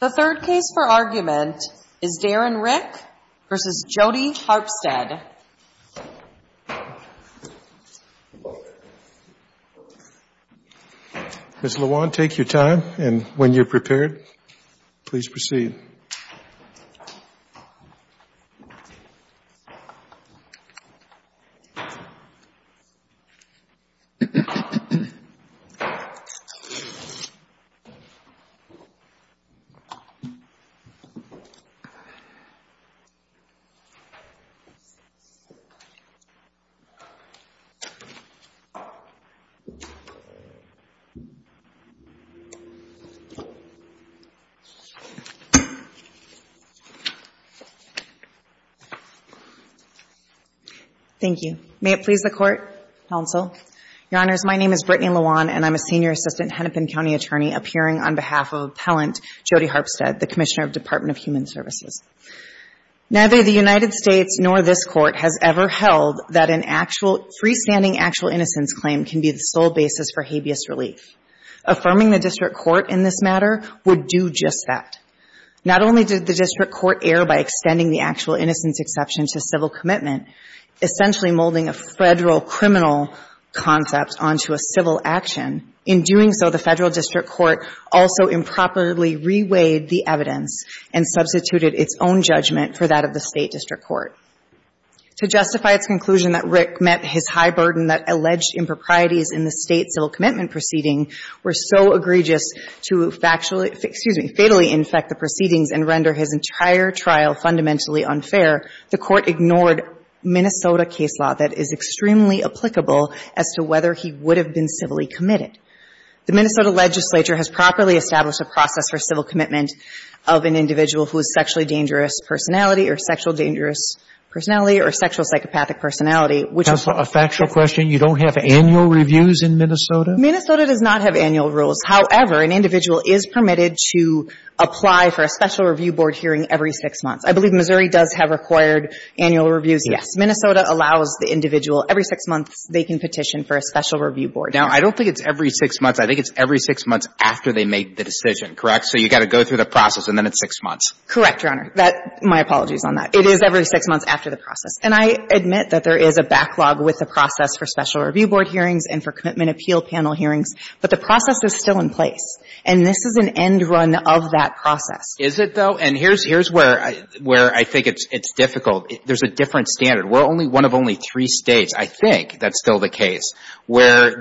The third case for argument is Darren Rick v. Jodi Harpstead. Ms. LeJuan, take your time, and when you're prepared, please proceed. Ms. LeJuan Thank you. May it please the Court, Counsel? Your Honors, my name is Brittany LeJuan, and I'm a Senior Assistant Hennepin County Attorney appearing on behalf of Appellant Jodi Harpstead, the Commissioner of the Department of Human Services. Neither the United States nor this Court has ever held that a freestanding actual innocence claim can be the sole basis for habeas relief. Affirming the District Court in this matter would do just that. Not only did the District Court err by extending the actual innocence exception to civil commitment, essentially molding a Federal criminal concept onto a civil action. In doing so, the Federal District Court also improperly reweighed the evidence and substituted its own judgment for that of the State District Court. To justify its conclusion that Rick met his high burden that alleged improprieties in the State civil commitment proceeding were so egregious to factually — excuse me, fatally infect the proceedings and render his entire trial fundamentally unfair, the Court ignored Minnesota case law that is extremely applicable as to whether he would have been civilly committed. The Minnesota legislature has properly established a process for civil commitment of an individual who is sexually dangerous personality or sexual dangerous personality or sexual psychopathic personality, which is — A factual question? You don't have annual reviews in Minnesota? Minnesota does not have annual rules. However, an individual is permitted to apply for a special review board hearing every six months. I believe Missouri does have required annual reviews. Yes. Minnesota allows the individual every six months they can petition for a special review board. Now, I don't think it's every six months. I think it's every six months after they make the decision, correct? So you've got to go through the process and then it's six months. Correct, Your Honor. That — my apologies on that. It is every six months after the process. And I admit that there is a backlog with the process for special and annual hearings. But the process is still in place. And this is an end run of that process. Is it, though? And here's where I think it's difficult. There's a different standard. We're only one of only three States, I think, if that's still the case, where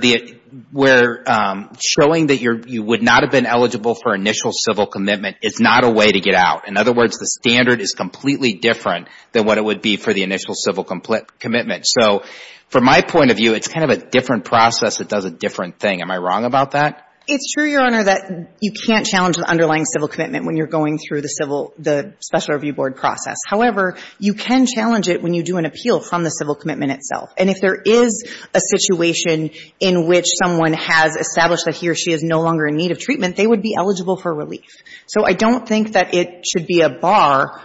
showing that you would not have been eligible for initial civil commitment is not a way to get out. In other words, the standard is completely different than what it would be for the initial civil commitment. So from my point of view, it's kind of a different process that does a different thing. Am I wrong about that? It's true, Your Honor, that you can't challenge the underlying civil commitment when you're going through the special review board process. However, you can challenge it when you do an appeal from the civil commitment itself. And if there is a situation in which someone has established that he or she is no longer in need of treatment, they would be eligible for relief. So I don't think that it should be a bar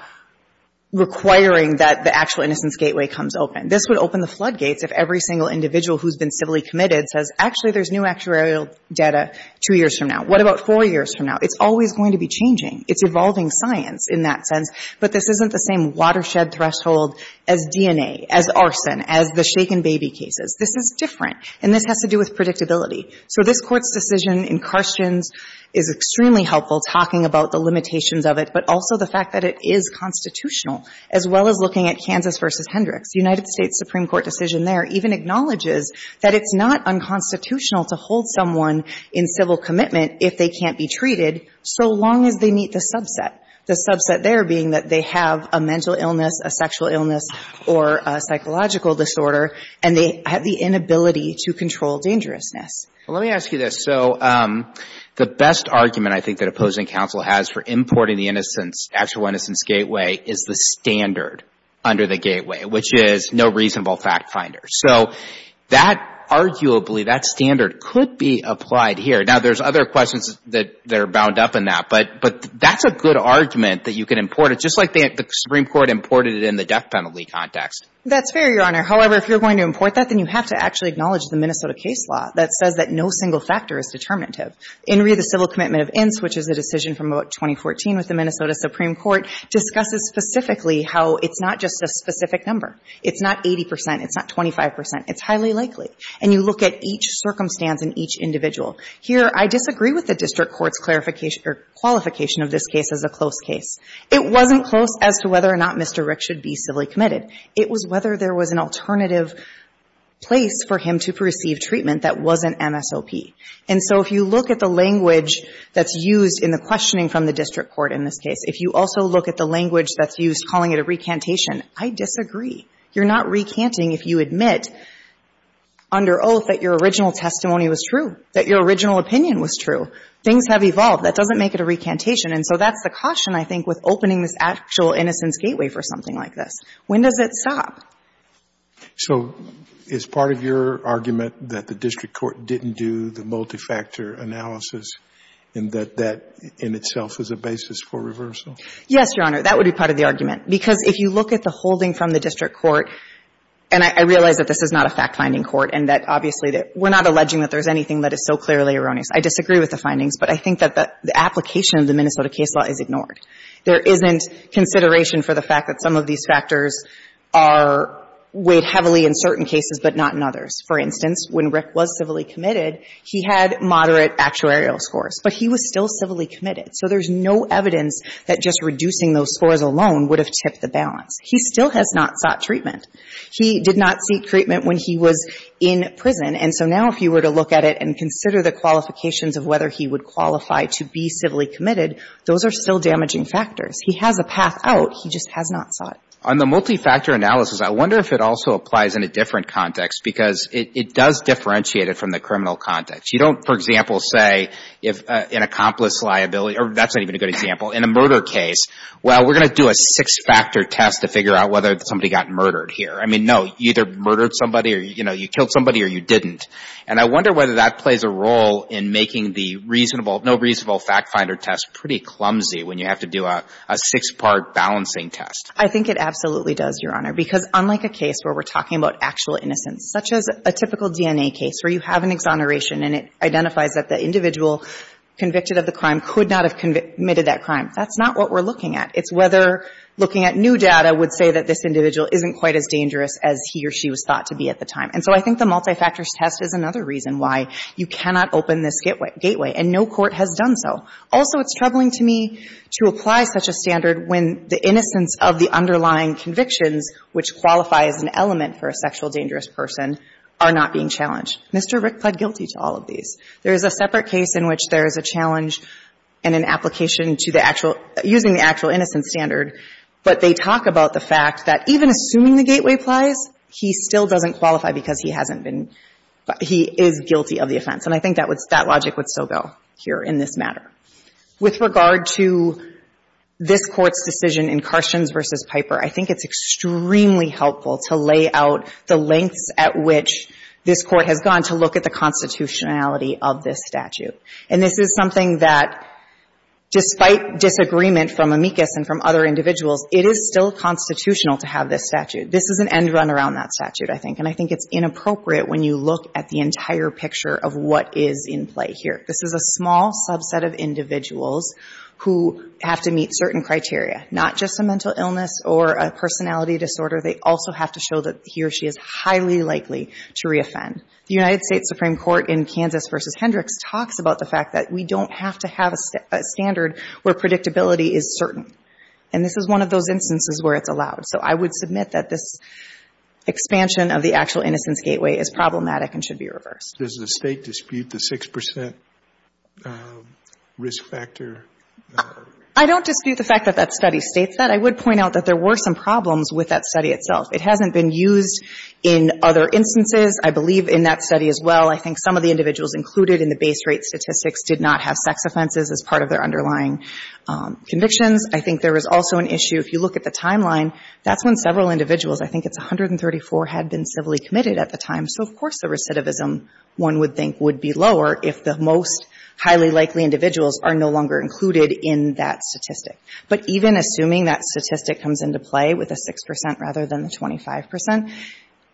requiring that the actual innocence gateway comes open. This would open the floodgates if every single individual who's been civilly committed says, actually, there's new actuarial data two years from now. What about four years from now? It's always going to be changing. It's evolving science in that sense. But this isn't the same watershed threshold as DNA, as arson, as the shaken baby cases. This is different. And this has to do with predictability. So this Court's decision in Carstens is extremely helpful talking about the limitations of it, but also the fact that it is constitutional, as well as looking at Kansas v. Hendricks. The United States Supreme Court decision there even acknowledges that it's not unconstitutional to hold someone in civil commitment if they can't be treated, so long as they meet the subset. The subset there being that they have a mental illness, a sexual illness, or a psychological disorder, and they have the inability to control dangerousness. Let me ask you this. So the best argument I think that opposing counsel has for importing the innocence, actual innocence gateway, is the standard under the gateway, which is no reasonable fact finder. So that arguably, that standard could be applied here. Now, there's other questions that are bound up in that, but that's a good argument that you can import. It's just like the Supreme Court imported it in the death penalty context. That's fair, Your Honor. However, if you're going to import that, then you have to actually acknowledge the Minnesota case law that says that no single factor is determinative. In re of the civil commitment of Ince, which is a decision from about 2014 with the Minnesota Supreme Court, discusses specifically how it's not just a specific number. It's not 80 percent. It's not 25 percent. It's highly likely. And you look at each circumstance and each individual. Here, I disagree with the district court's clarification or qualification of this case as a close case. It wasn't close as to whether or not Mr. Rick should be civilly committed. It was whether there was an alternative place for him to receive treatment that wasn't MSOP. And so if you look at the language that's used in the questioning from the Minnesota case, if you also look at the language that's used calling it a recantation, I disagree. You're not recanting if you admit under oath that your original testimony was true, that your original opinion was true. Things have evolved. That doesn't make it a recantation. And so that's the caution, I think, with opening this actual innocence gateway for something like this. When does it stop? So is part of your argument that the district court didn't do the multifactor analysis and that that in itself is a basis for reversal? Yes, Your Honor. That would be part of the argument. Because if you look at the holding from the district court, and I realize that this is not a fact-finding court and that obviously we're not alleging that there's anything that is so clearly erroneous. I disagree with the findings, but I think that the application of the Minnesota case law is ignored. There isn't consideration for the fact that some of these factors are weighed heavily in certain cases but not in others. For instance, when Rick was civilly committed, he had moderate actuarial scores, but he was still civilly committed. So there's no evidence that just reducing those scores alone would have tipped the balance. He still has not sought treatment. He did not seek treatment when he was in prison, and so now if you were to look at it and consider the qualifications of whether he would qualify to be civilly committed, those are still damaging factors. He has a path out. He just has not sought. On the multi-factor analysis, I wonder if it also applies in a different context because it does differentiate it from the criminal context. You don't, for example, say if an accomplice's liability, or that's not even a good example, in a murder case, well, we're going to do a six-factor test to figure out whether somebody got murdered here. I mean, no, you either murdered somebody or, you know, you killed somebody or you didn't. And I wonder whether that plays a role in making the reasonable, no reasonable fact-finder test pretty clumsy when you have to do a six-part balancing test. I think it absolutely does, Your Honor, because unlike a case where we're talking about actual innocence, such as a typical DNA case where you have an exoneration and it identifies that the individual convicted of the crime could not have committed that crime, that's not what we're looking at. It's whether looking at new data would say that this individual isn't quite as dangerous as he or she was thought to be at the time. And so I think the multi-factors test is another reason why you cannot open this gateway, and no court has done so. Also, it's troubling to me to apply such a standard when the innocence of the underlying convictions, which qualify as an element for a sexual dangerous person, are not being challenged. Mr. Rick pled guilty to all of these. There is a separate case in which there is a challenge and an application to the actual — using the actual innocence standard, but they talk about the fact that even assuming the gateway plies, he still doesn't qualify because he hasn't been — he is guilty of the offense. And I think that would — that logic would still go here in this matter. With regard to this Court's decision in Carstens v. Piper, I think it's extremely helpful to lay out the lengths at which this Court has gone to look at the constitutionality of this statute. And this is something that, despite disagreement from Amicus and from other individuals, it is still constitutional to have this statute. This is an end run around that statute, I think, and I think it's inappropriate when you look at the entire picture of what is in play here. This is a small subset of individuals who have to meet certain criteria, not just a mental illness or a personality disorder. They also have to show that he or she is highly likely to reoffend. The United States Supreme Court in Kansas v. Hendricks talks about the fact that we don't have to have a standard where predictability is certain. And this is one of those instances where it's allowed. So I would submit that this is problematic and should be reversed. Does the State dispute the 6 percent risk factor? I don't dispute the fact that that study states that. I would point out that there were some problems with that study itself. It hasn't been used in other instances, I believe, in that study as well. I think some of the individuals included in the base rate statistics did not have sex offenses as part of their underlying convictions. I think there was also an issue, if you look at the timeline, that's when several individuals were included at a time. So of course the recidivism, one would think, would be lower if the most highly likely individuals are no longer included in that statistic. But even assuming that statistic comes into play with the 6 percent rather than the 25 percent,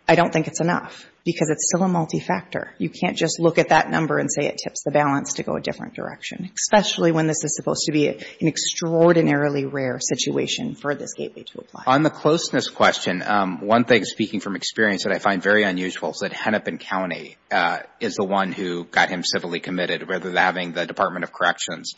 I don't think it's enough, because it's still a multifactor. You can't just look at that number and say it tips the balance to go a different direction, especially when this is supposed to be an extraordinarily rare situation for this gateway to apply. On the closeness question, one thing speaking from experience that I find very unusual is that Hennepin County is the one who got him civilly committed rather than having the Department of Corrections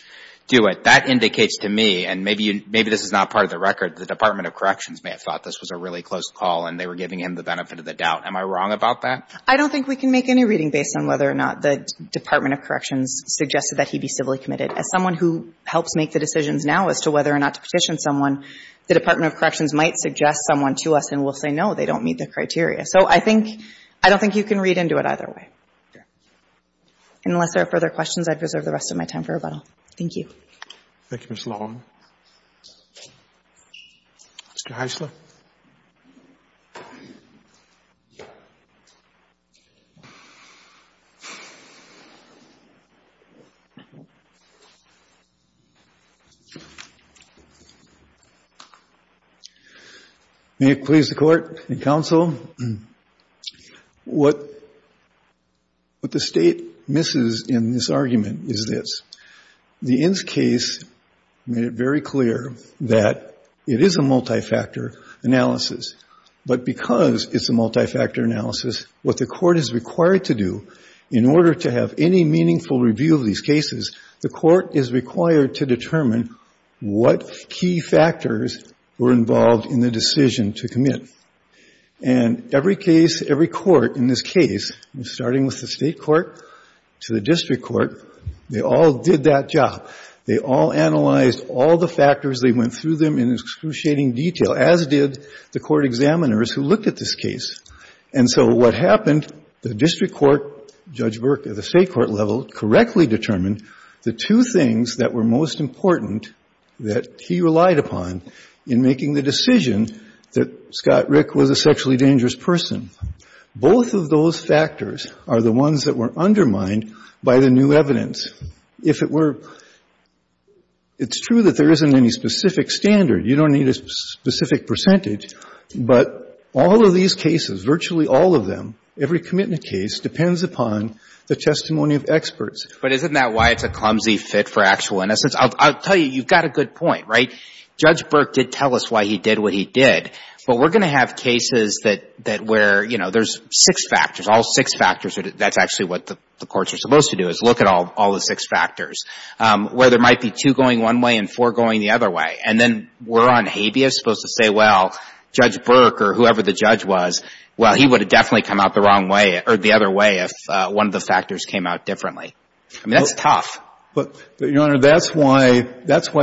do it. That indicates to me, and maybe this is not part of the record, the Department of Corrections may have thought this was a really close call and they were giving him the benefit of the doubt. Am I wrong about that? I don't think we can make any reading based on whether or not the Department of Corrections suggested that he be civilly committed. Unless there are further questions, I'd reserve the rest of my time for rebuttal. Thank you. Thank you, Ms. Long. Mr. Heisler. May it please the Court and Counsel. What the State misses in this argument is this. The Inns case made it very clear that it is a multifactor analysis. But because it's a multifactor analysis, what the Court is required to do in order to have any meaningful review of these cases, the Court is required to determine what key factors were involved in the decision to commit. And every case, every court in this case, starting with the State court to the district court, they all did that job. They all analyzed all the factors. They went through them in excruciating detail, as did the court examiners who looked at this case. And so what happened, the district court, Judge Burke at the State court level, determined the two things that were most important that he relied upon in making the decision that Scott Rick was a sexually dangerous person. Both of those factors are the ones that were undermined by the new evidence. If it were — it's true that there isn't any specific standard. You don't need a specific percentage. But all of these cases, virtually all of them, every commitment case, depends upon the testimony of experts. But isn't that why it's a clumsy fit for actual innocence? I'll tell you, you've got a good point, right? Judge Burke did tell us why he did what he did. But we're going to have cases that where, you know, there's six factors, all six factors. That's actually what the courts are supposed to do, is look at all the six factors, where there might be two going one way and four going the other way. And then we're on habeas, supposed to say, well, Judge Burke or whoever the judge was, well, he would have definitely come out the wrong way or the other way if one of the factors came out differently. I mean, that's tough. But, Your Honor, that's why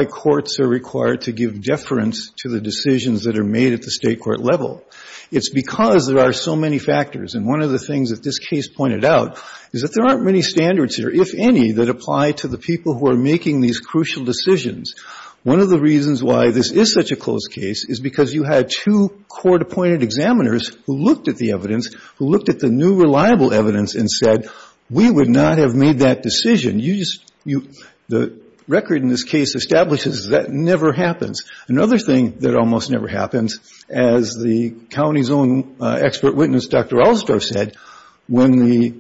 courts are required to give deference to the decisions that are made at the State court level. It's because there are so many factors. And one of the things that this case pointed out is that there aren't many standards here, if any, that apply to the people who are making these crucial decisions. One of the reasons why this is such a close case is because you had two court-appointed examiners who looked at the evidence, who looked at the new, reliable evidence and said, we would not have made that decision. You just, you, the record in this case establishes that never happens. Another thing that almost never happens, as the county's own expert witness, Dr. Allsdorf, said, when the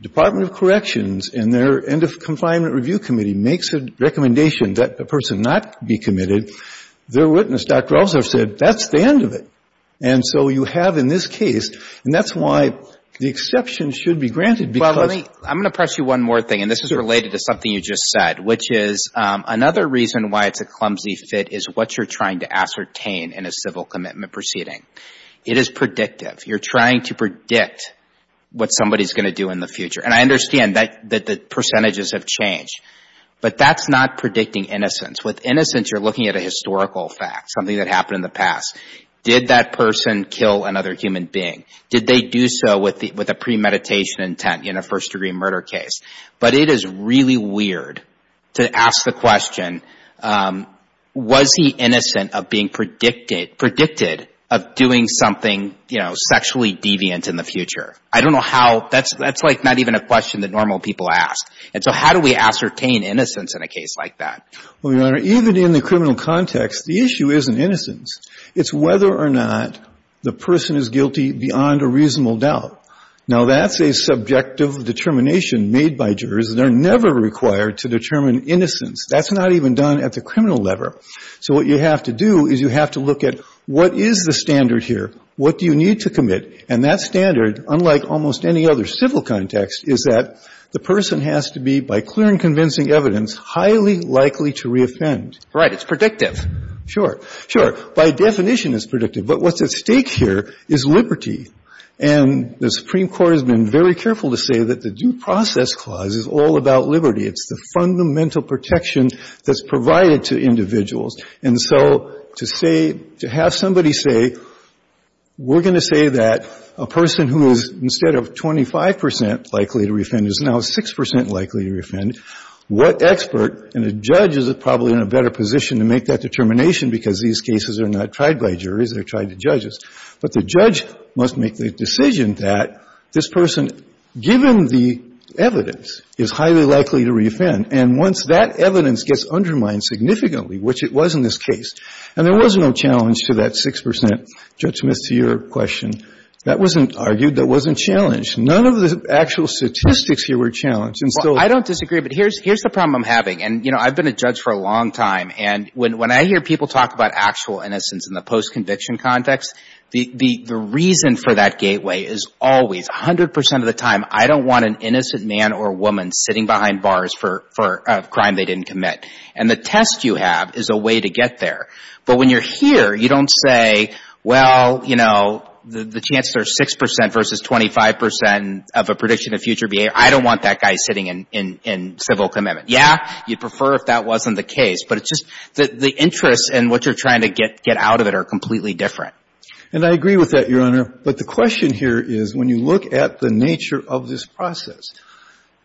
Department of Corrections and their end-of-confinement review committee makes a recommendation that a person not be committed, their witness, Dr. Allsdorf, said, that's the end of it. And so you have in this case, and that's why the exception should be granted because of the. Well, let me, I'm going to press you one more thing, and this is related to something you just said, which is another reason why it's a clumsy fit is what you're trying to ascertain in a civil commitment proceeding. It is predictive. You're trying to predict what somebody's going to do in the future. And I understand that the percentages have changed. But that's not predicting innocence. With innocence, you're looking at a historical fact, something that happened in the past. Did that person kill another human being? Did they do so with a premeditation intent in a first-degree murder case? But it is really weird to ask the question, was he innocent of being predicted of doing something, you know, sexually deviant in the future? I don't know how, that's like not even a question that normal people ask. And so how do we ascertain innocence in a case like that? Well, Your Honor, even in the criminal context, the issue isn't innocence. It's whether or not the person is guilty beyond a reasonable doubt. Now, that's a subjective determination made by jurors. They're never required to determine innocence. That's not even done at the criminal level. So what you have to do is you have to look at what is the standard here? What do you need to commit? And that standard, unlike almost any other civil context, is that the person has to be, by clear and convincing evidence, highly likely to reoffend. Right. It's predictive. Sure. Sure. By definition, it's predictive. But what's at stake here is liberty. And the Supreme Court has been very careful to say that the Due Process Clause is all about liberty. It's the fundamental protection that's provided to individuals. Now, you have 25 percent likely to reoffend. There's now 6 percent likely to reoffend. What expert and a judge is probably in a better position to make that determination because these cases are not tried by juries. They're tried to judges. But the judge must make the decision that this person, given the evidence, is highly likely to reoffend. And once that evidence gets undermined significantly, which it was in this case, and there was no challenge to that 6 percent judgment to your question, that wasn't a challenge. None of the actual statistics here were challenged. Well, I don't disagree. But here's the problem I'm having. And, you know, I've been a judge for a long time. And when I hear people talk about actual innocence in the post-conviction context, the reason for that gateway is always, 100 percent of the time, I don't want an innocent man or woman sitting behind bars for a crime they didn't commit. And the test you have is a way to get there. But when you're here, you don't say, well, you know, the chance there's 6 percent versus 25 percent of a prediction of future behavior, I don't want that guy sitting in civil commitment. Yeah, you'd prefer if that wasn't the case. But it's just the interests and what you're trying to get out of it are completely different. And I agree with that, Your Honor. But the question here is, when you look at the nature of this process,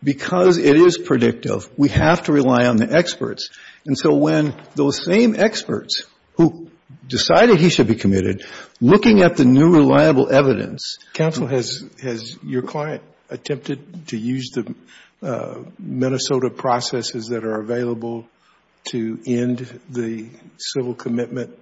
because it is predictive, we have to rely on the experts. And so when those same experts who decided he should be committed, looking at the new reliable evidence. Counsel, has your client attempted to use the Minnesota processes that are available to end the civil commitment?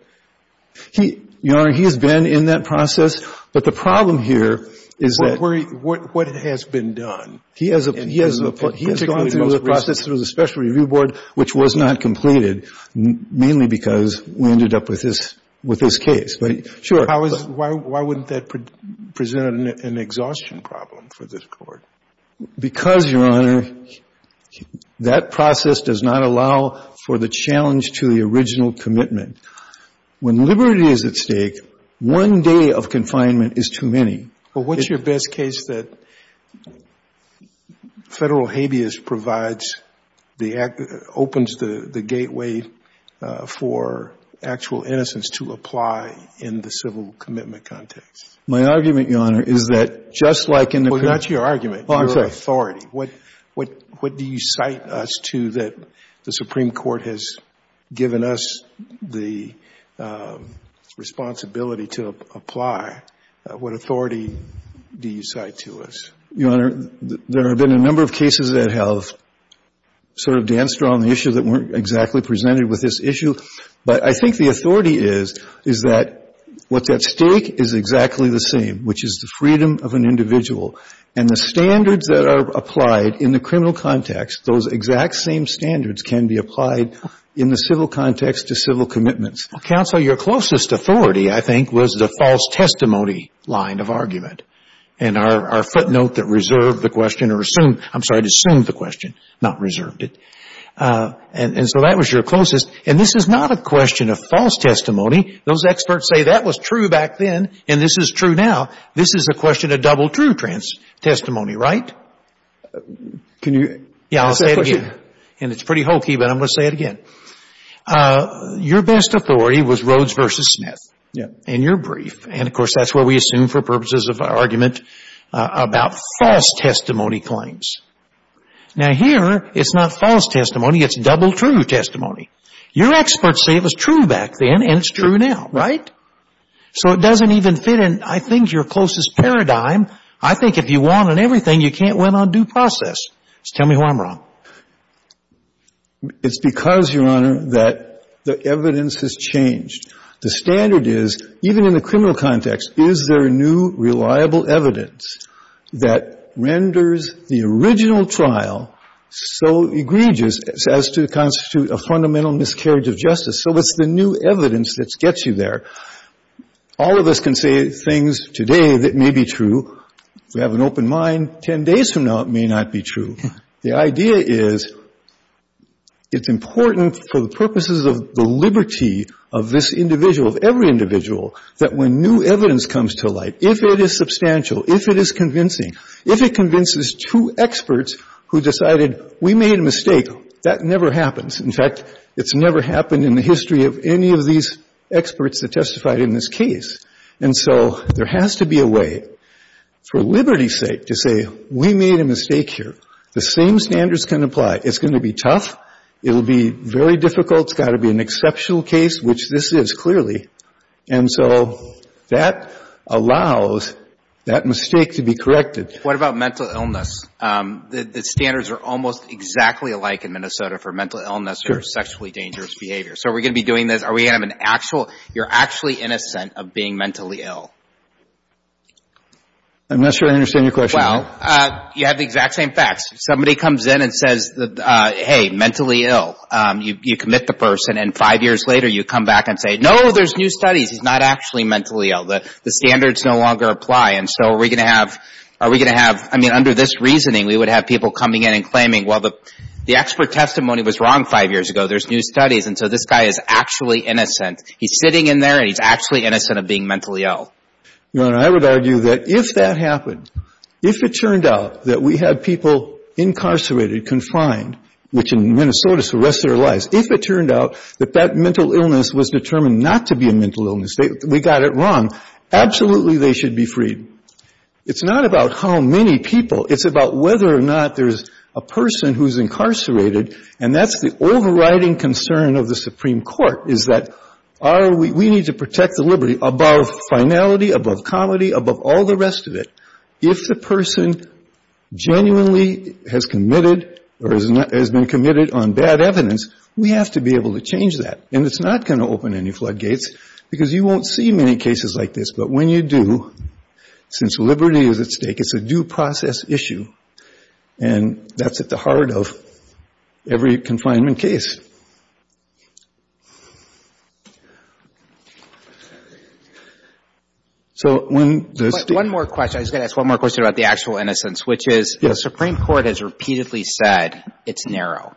Your Honor, he has been in that process. But the problem here is that. What has been done? He has gone through the process through the special review board, which was not completed, mainly because we ended up with his case. Why wouldn't that present an exhaustion problem for this court? Because, Your Honor, that process does not allow for the challenge to the original commitment. When liberty is at stake, one day of confinement is too many. But what's your best case that federal habeas provides, opens the gateway for actual innocence to apply in the civil commitment context? My argument, Your Honor, is that just like in the... Well, not your argument. Oh, I'm sorry. Your authority. What do you cite us to that the Supreme Court has given us the responsibility to apply? What authority do you cite to us? Your Honor, there have been a number of cases that have sort of danced around the issue that weren't exactly presented with this issue. But I think the authority is, is that what's at stake is exactly the same, which is the freedom of an individual. And the standards that are applied in the criminal context, those exact same standards can be applied in the civil context to civil commitments. Counsel, your closest authority, I think, was the false testimony line of argument. And our footnote that reserved the question or assumed... I'm sorry, it assumed the question, not reserved it. And so that was your closest. And this is not a question of false testimony. Those experts say that was true back then and this is true now. This is a question of double true testimony, right? Can you... Yeah, I'll say it again. And it's pretty hokey, but I'm going to say it again. Your best authority was Rhodes v. Smith in your brief. And, of course, that's where we assume for purposes of argument about false testimony claims. Now here, it's not false testimony. It's double true testimony. Your experts say it was true back then and it's true now, right? So it doesn't even fit in, I think, your closest paradigm. I think if you want on everything, you can't win on due process. Just tell me who I'm wrong. It's because, Your Honor, that the evidence has changed. The standard is, even in the criminal context, is there new, reliable evidence that renders the original trial so egregious as to constitute a fundamental miscarriage of justice. So it's the new evidence that gets you there. All of us can say things today that may be true. If we have an open mind, 10 days from now it may not be true. The idea is it's important for the purposes of the liberty of this individual, of every individual, that when new evidence comes to light, if it is substantial, if it is convincing, if it convinces two experts who decided we made a mistake, that never happens. In fact, it's never happened in the history of any of these experts that testified in this case. And so there has to be a way, for liberty's sake, to say we made a mistake here. The same standards can apply. It's going to be tough. It will be very difficult. It's got to be an exceptional case, which this is, clearly. And so that allows that mistake to be corrected. What about mental illness? The standards are almost exactly alike in Minnesota for mental illness or sexually dangerous behavior. So are we going to be doing this? Are we going to have an actual, you're actually innocent of being mentally ill? I'm not sure I understand your question. Well, you have the exact same facts. Somebody comes in and says, hey, mentally ill. You commit the person. And five years later, you come back and say, no, there's new studies. He's not actually mentally ill. The standards no longer apply. And so are we going to have, I mean, under this reasoning, we would have people coming in and claiming, well, the expert testimony was wrong five years ago. There's new studies. And so this guy is actually innocent. He's sitting in there, and he's actually innocent of being mentally ill. No, and I would argue that if that happened, if it turned out that we had people incarcerated, confined, which in Minnesota is for the rest of their lives, if it turned out that that mental illness was determined not to be a mental illness, we got it wrong, absolutely they should be freed. It's not about how many people. It's about whether or not there's a person who's incarcerated, and that's the overriding concern of the Supreme Court is that we need to protect the liberty above finality, above comedy, above all the rest of it. If the person genuinely has committed or has been committed on bad evidence, we have to be able to change that. And it's not going to open any floodgates because you won't see many cases like this, but when you do, since liberty is at stake, it's a due process issue, and that's at the heart of every confinement case. So when the State... One more question. I was going to ask one more question about the actual innocence, which is the Supreme Court has repeatedly said it's narrow.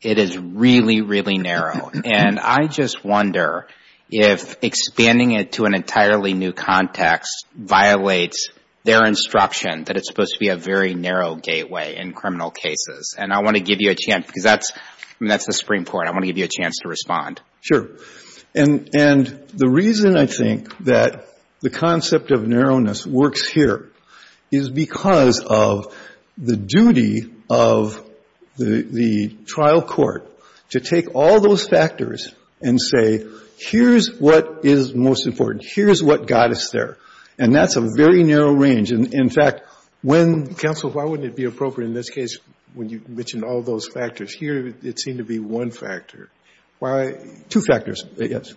It is really, really narrow, and I just wonder if expanding it to an entirely new context violates their instruction that it's supposed to be a very narrow gateway in criminal cases, and I want to give you a chance because that's the Supreme Court. I want to give you a chance to respond. Sure. And the reason I think that the concept of narrowness works here is because of the duty of the trial court to take all those factors and say, here's what is most important. Here's what got us there. And that's a very narrow range. In fact, when... Counsel, why wouldn't it be appropriate in this case when you mentioned all those factors? Here, it seemed to be one factor. Why... Two factors, I guess.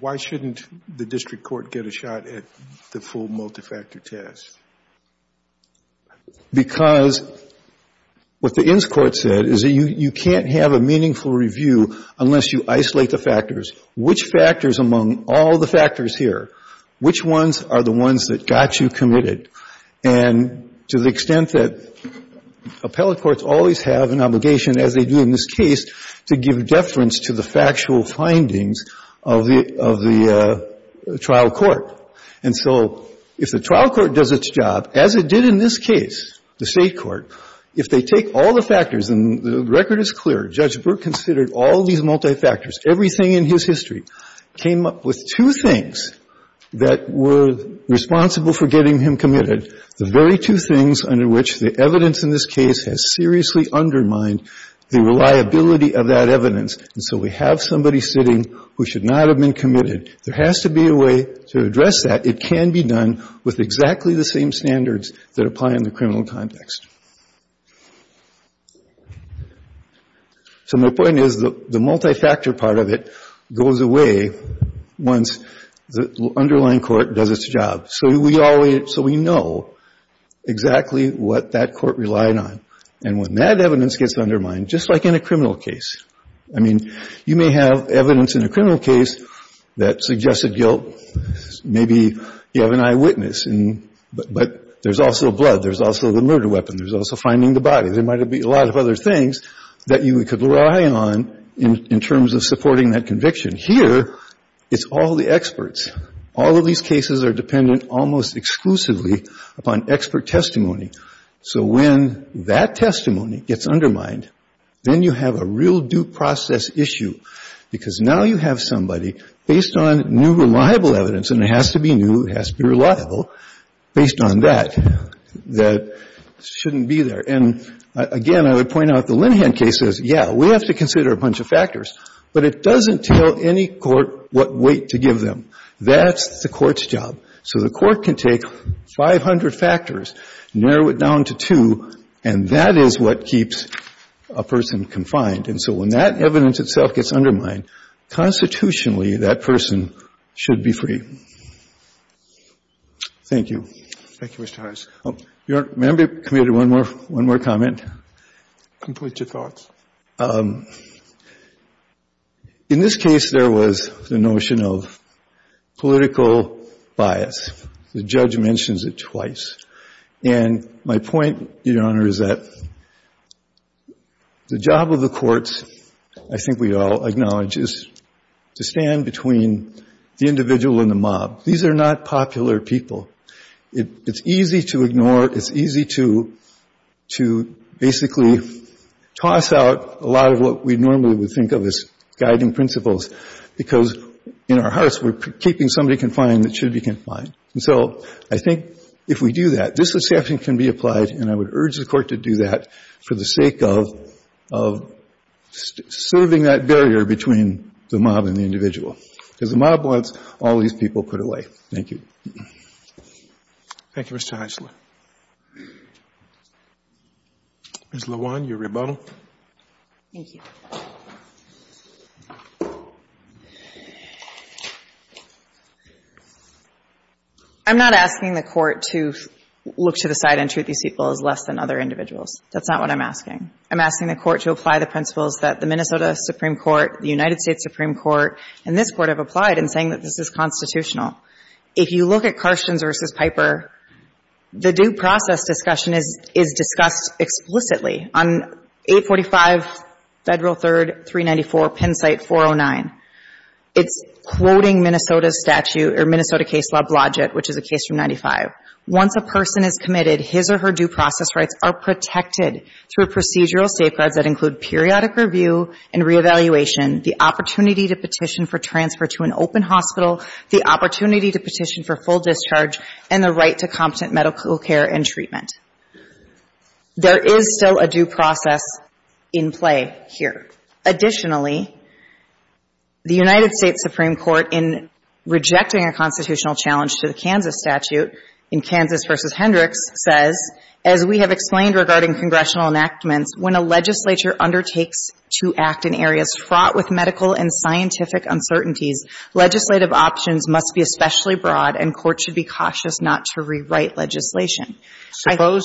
Why shouldn't the district court get a shot at the full multifactor test? Because what the Inns Court said is that you can't have a meaningful review unless you isolate the factors. Which factors among all the factors here, which ones are the ones that got you committed? And to the extent that appellate courts always have an obligation, as they do in this case, to give deference to the factual findings of the trial court. And so if the trial court does its job, as it did in this case, the State court, if they take all the factors, and the record is clear, Judge Brooke considered all these multifactors, everything in his history, came up with two things that were responsible for getting him committed, the very two things under which the evidence in this case has seriously undermined the reliability of that evidence. And so we have somebody sitting who should not have been committed. There has to be a way to address that. It can be done with exactly the same standards that apply in the criminal context. So my point is, the multifactor part of it goes away once the underlying court does its job. So we know exactly what that court relied on. And when that evidence gets undermined, just like in a criminal case, I mean, you may have evidence in a criminal case that suggested guilt. Maybe you have an eyewitness, but there's also blood. There's also the murder weapon. There's also finding the body. There might be a lot of other things that you could rely on in terms of supporting that conviction. Here, it's all the experts. All of these cases are dependent almost exclusively upon expert testimony. So when that testimony gets undermined, then you have a real due process issue, because now you have somebody, based on new reliable evidence, and it has to be new, it has to be reliable, based on that, that shouldn't be there. And again, I would point out the Linhan case says, yeah, we have to consider a bunch of factors, but it doesn't tell any court what weight to give them. That's the court's job. So the court can take 500 factors, narrow it down to two, and that is what keeps a person confined. And so when that evidence itself gets undermined, constitutionally, that person should be free. Thank you. Thank you, Mr. Harris. May I be permitted one more comment? Complete your thoughts. In this case, there was the notion of political bias. The judge mentions it twice. And my point, Your Honor, is that the job of the courts, I think we all acknowledge, is to stand between the individual and the mob. These are not popular people. It's easy to ignore. It's easy to basically toss out a lot of what we normally would think of as guiding principles, because in our hearts, we're keeping somebody confined that should be confined. And so I think if we do that, this exception can be applied, and I would urge the Court to do that for the sake of serving that barrier between the mob and the individual, because the mob wants all these people put away. Thank you. Thank you, Mr. Hensler. Ms. LeJuan, your rebuttal. Thank you. I'm not asking the Court to look to the side and treat these people as less than other individuals. That's not what I'm asking. I'm asking the Court to apply the principles that the Minnesota Supreme Court, the United States Supreme Court, and this Court have applied in saying that this is constitutional. If you look at Carstens v. Piper, the due process discussion is discussed explicitly. On 845 Federal 3rd 394 Pennsite 409, it's quoting Minnesota's statute or Minnesota case law Blodgett, which is a case from 95. Once a person is committed, his or her due process rights are protected through procedural safeguards that include periodic review and reevaluation, the opportunity to petition for transfer to an open hospital, the opportunity to petition for full There is still a due process in play here. Additionally, the United States Supreme Court in rejecting a constitutional challenge to the Kansas statute in Kansas v. Hendricks says, as we have explained regarding congressional enactments, when a legislature undertakes to act in areas fraught with medical and scientific uncertainties, legislative options must be especially broad, and courts should be cautious not to rewrite legislation. Suppose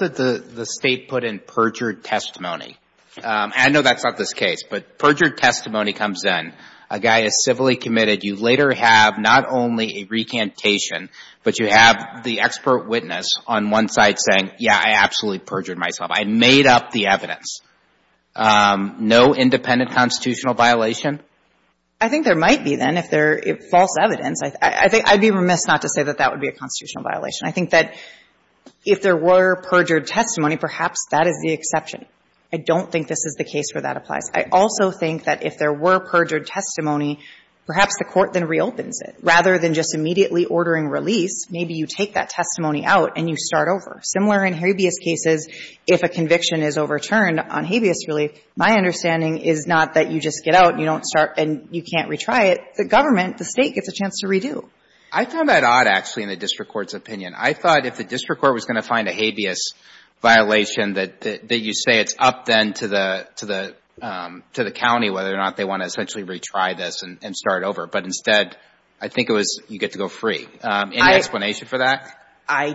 that the State put in perjured testimony. I know that's not this case, but perjured testimony comes in. A guy is civilly committed. You later have not only a recantation, but you have the expert witness on one side saying, yeah, I absolutely perjured myself. I made up the evidence. No independent constitutional violation? I think there might be, then, if there is false evidence. I'd be remiss not to say that that would be a constitutional violation. I think that if there were perjured testimony, perhaps that is the exception. I don't think this is the case where that applies. I also think that if there were perjured testimony, perhaps the Court then reopens it. Rather than just immediately ordering release, maybe you take that testimony out and you start over. Similar in habeas cases, if a conviction is overturned on habeas relief, my understanding is not that you just get out and you don't start and you can't retry it. The government, the State, gets a chance to redo. I found that odd, actually, in the district court's opinion. I thought if the district court was going to find a habeas violation, that you say it's up, then, to the county whether or not they want to essentially retry this and start over. But instead, I think it was you get to go free. Any explanation for that? I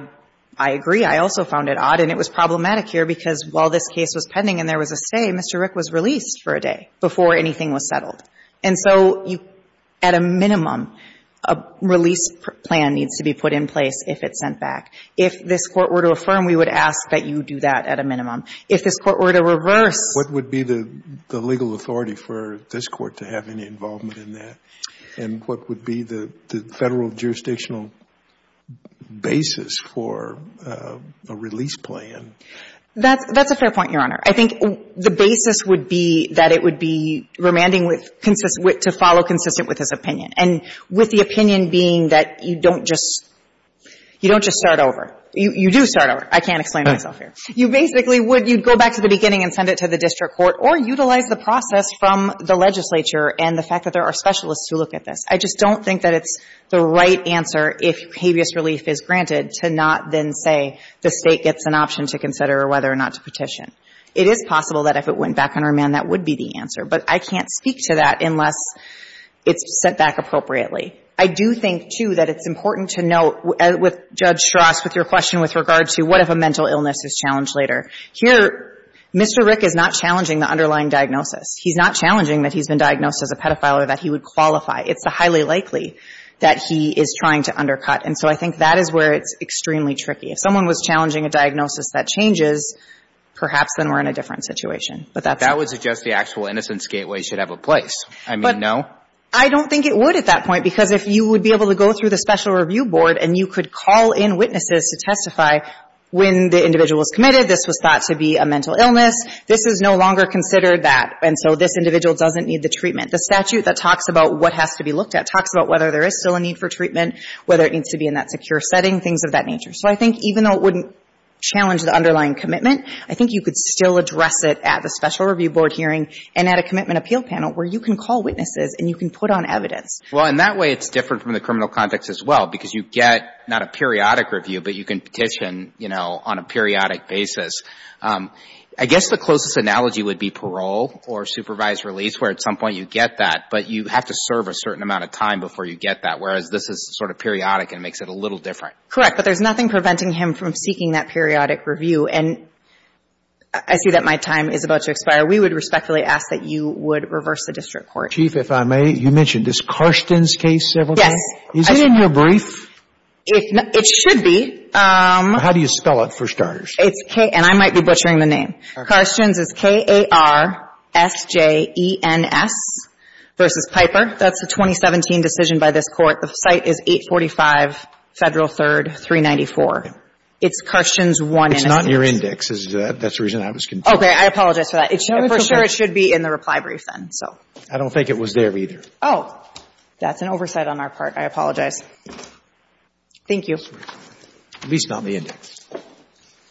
agree. I also found it odd. And it was problematic here because while this case was pending and there was a say, Mr. Rick was released for a day before anything was settled. And so you, at a minimum, a release plan needs to be put in place if it's sent back. If this Court were to affirm, we would ask that you do that at a minimum. If this Court were to reverse. What would be the legal authority for this Court to have any involvement in that? And what would be the Federal jurisdictional basis for a release plan? That's a fair point, Your Honor. I think the basis would be that it would be remanding to follow consistent with his opinion. And with the opinion being that you don't just start over. You do start over. I can't explain myself here. You basically would go back to the beginning and send it to the district court or utilize the process from the legislature and the fact that there are specialists who look at this. I just don't think that it's the right answer if habeas relief is granted to not state gets an option to consider or whether or not to petition. It is possible that if it went back on remand, that would be the answer. But I can't speak to that unless it's sent back appropriately. I do think, too, that it's important to note, with Judge Schrost, with your question with regard to what if a mental illness is challenged later. Here, Mr. Rick is not challenging the underlying diagnosis. He's not challenging that he's been diagnosed as a pedophile or that he would qualify. It's highly likely that he is trying to undercut. And so I think that is where it's extremely tricky. If someone was challenging a diagnosis that changes, perhaps then we're in a different situation. But that's... That would suggest the actual innocence gateway should have a place. I mean, no? I don't think it would at that point because if you would be able to go through the special review board and you could call in witnesses to testify when the individual was committed, this was thought to be a mental illness. This is no longer considered that. And so this individual doesn't need the treatment. The statute that talks about what has to be looked at talks about whether there is still a need for treatment, whether it needs to be in that secure setting, things of that nature. So I think even though it wouldn't challenge the underlying commitment, I think you could still address it at the special review board hearing and at a commitment appeal panel where you can call witnesses and you can put on evidence. Well, and that way it's different from the criminal context as well because you get not a periodic review, but you can petition, you know, on a periodic basis. I guess the closest analogy would be parole or supervised release where at some point in time you get a review and you have to wait a certain amount of time before you get that, whereas this is sort of periodic and makes it a little different. Correct. But there's nothing preventing him from seeking that periodic review. And I see that my time is about to expire. We would respectfully ask that you would reverse the district court. Chief, if I may, you mentioned this Carstens case several times. Yes. Is it in your brief? It should be. How do you spell it for starters? It's K. And I might be butchering the name. Carstens is K-A-R-S-J-E-N-S versus Piper. That's the 2017 decision by this Court. The site is 845 Federal 3rd, 394. It's Carstens 1. It's not in your index. That's the reason I was confused. Okay. I apologize for that. For sure it should be in the reply brief then, so. I don't think it was there either. Oh. That's an oversight on our part. I apologize. Thank you. At least not in the index.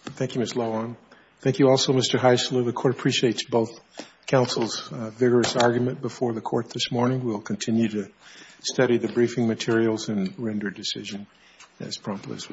Thank you, Ms. Lowen. Thank you also, Mr. Heisler. The Court appreciates both counsels' vigorous argument before the Court this morning. We'll continue to study the briefing materials and render a decision as prompt as we can.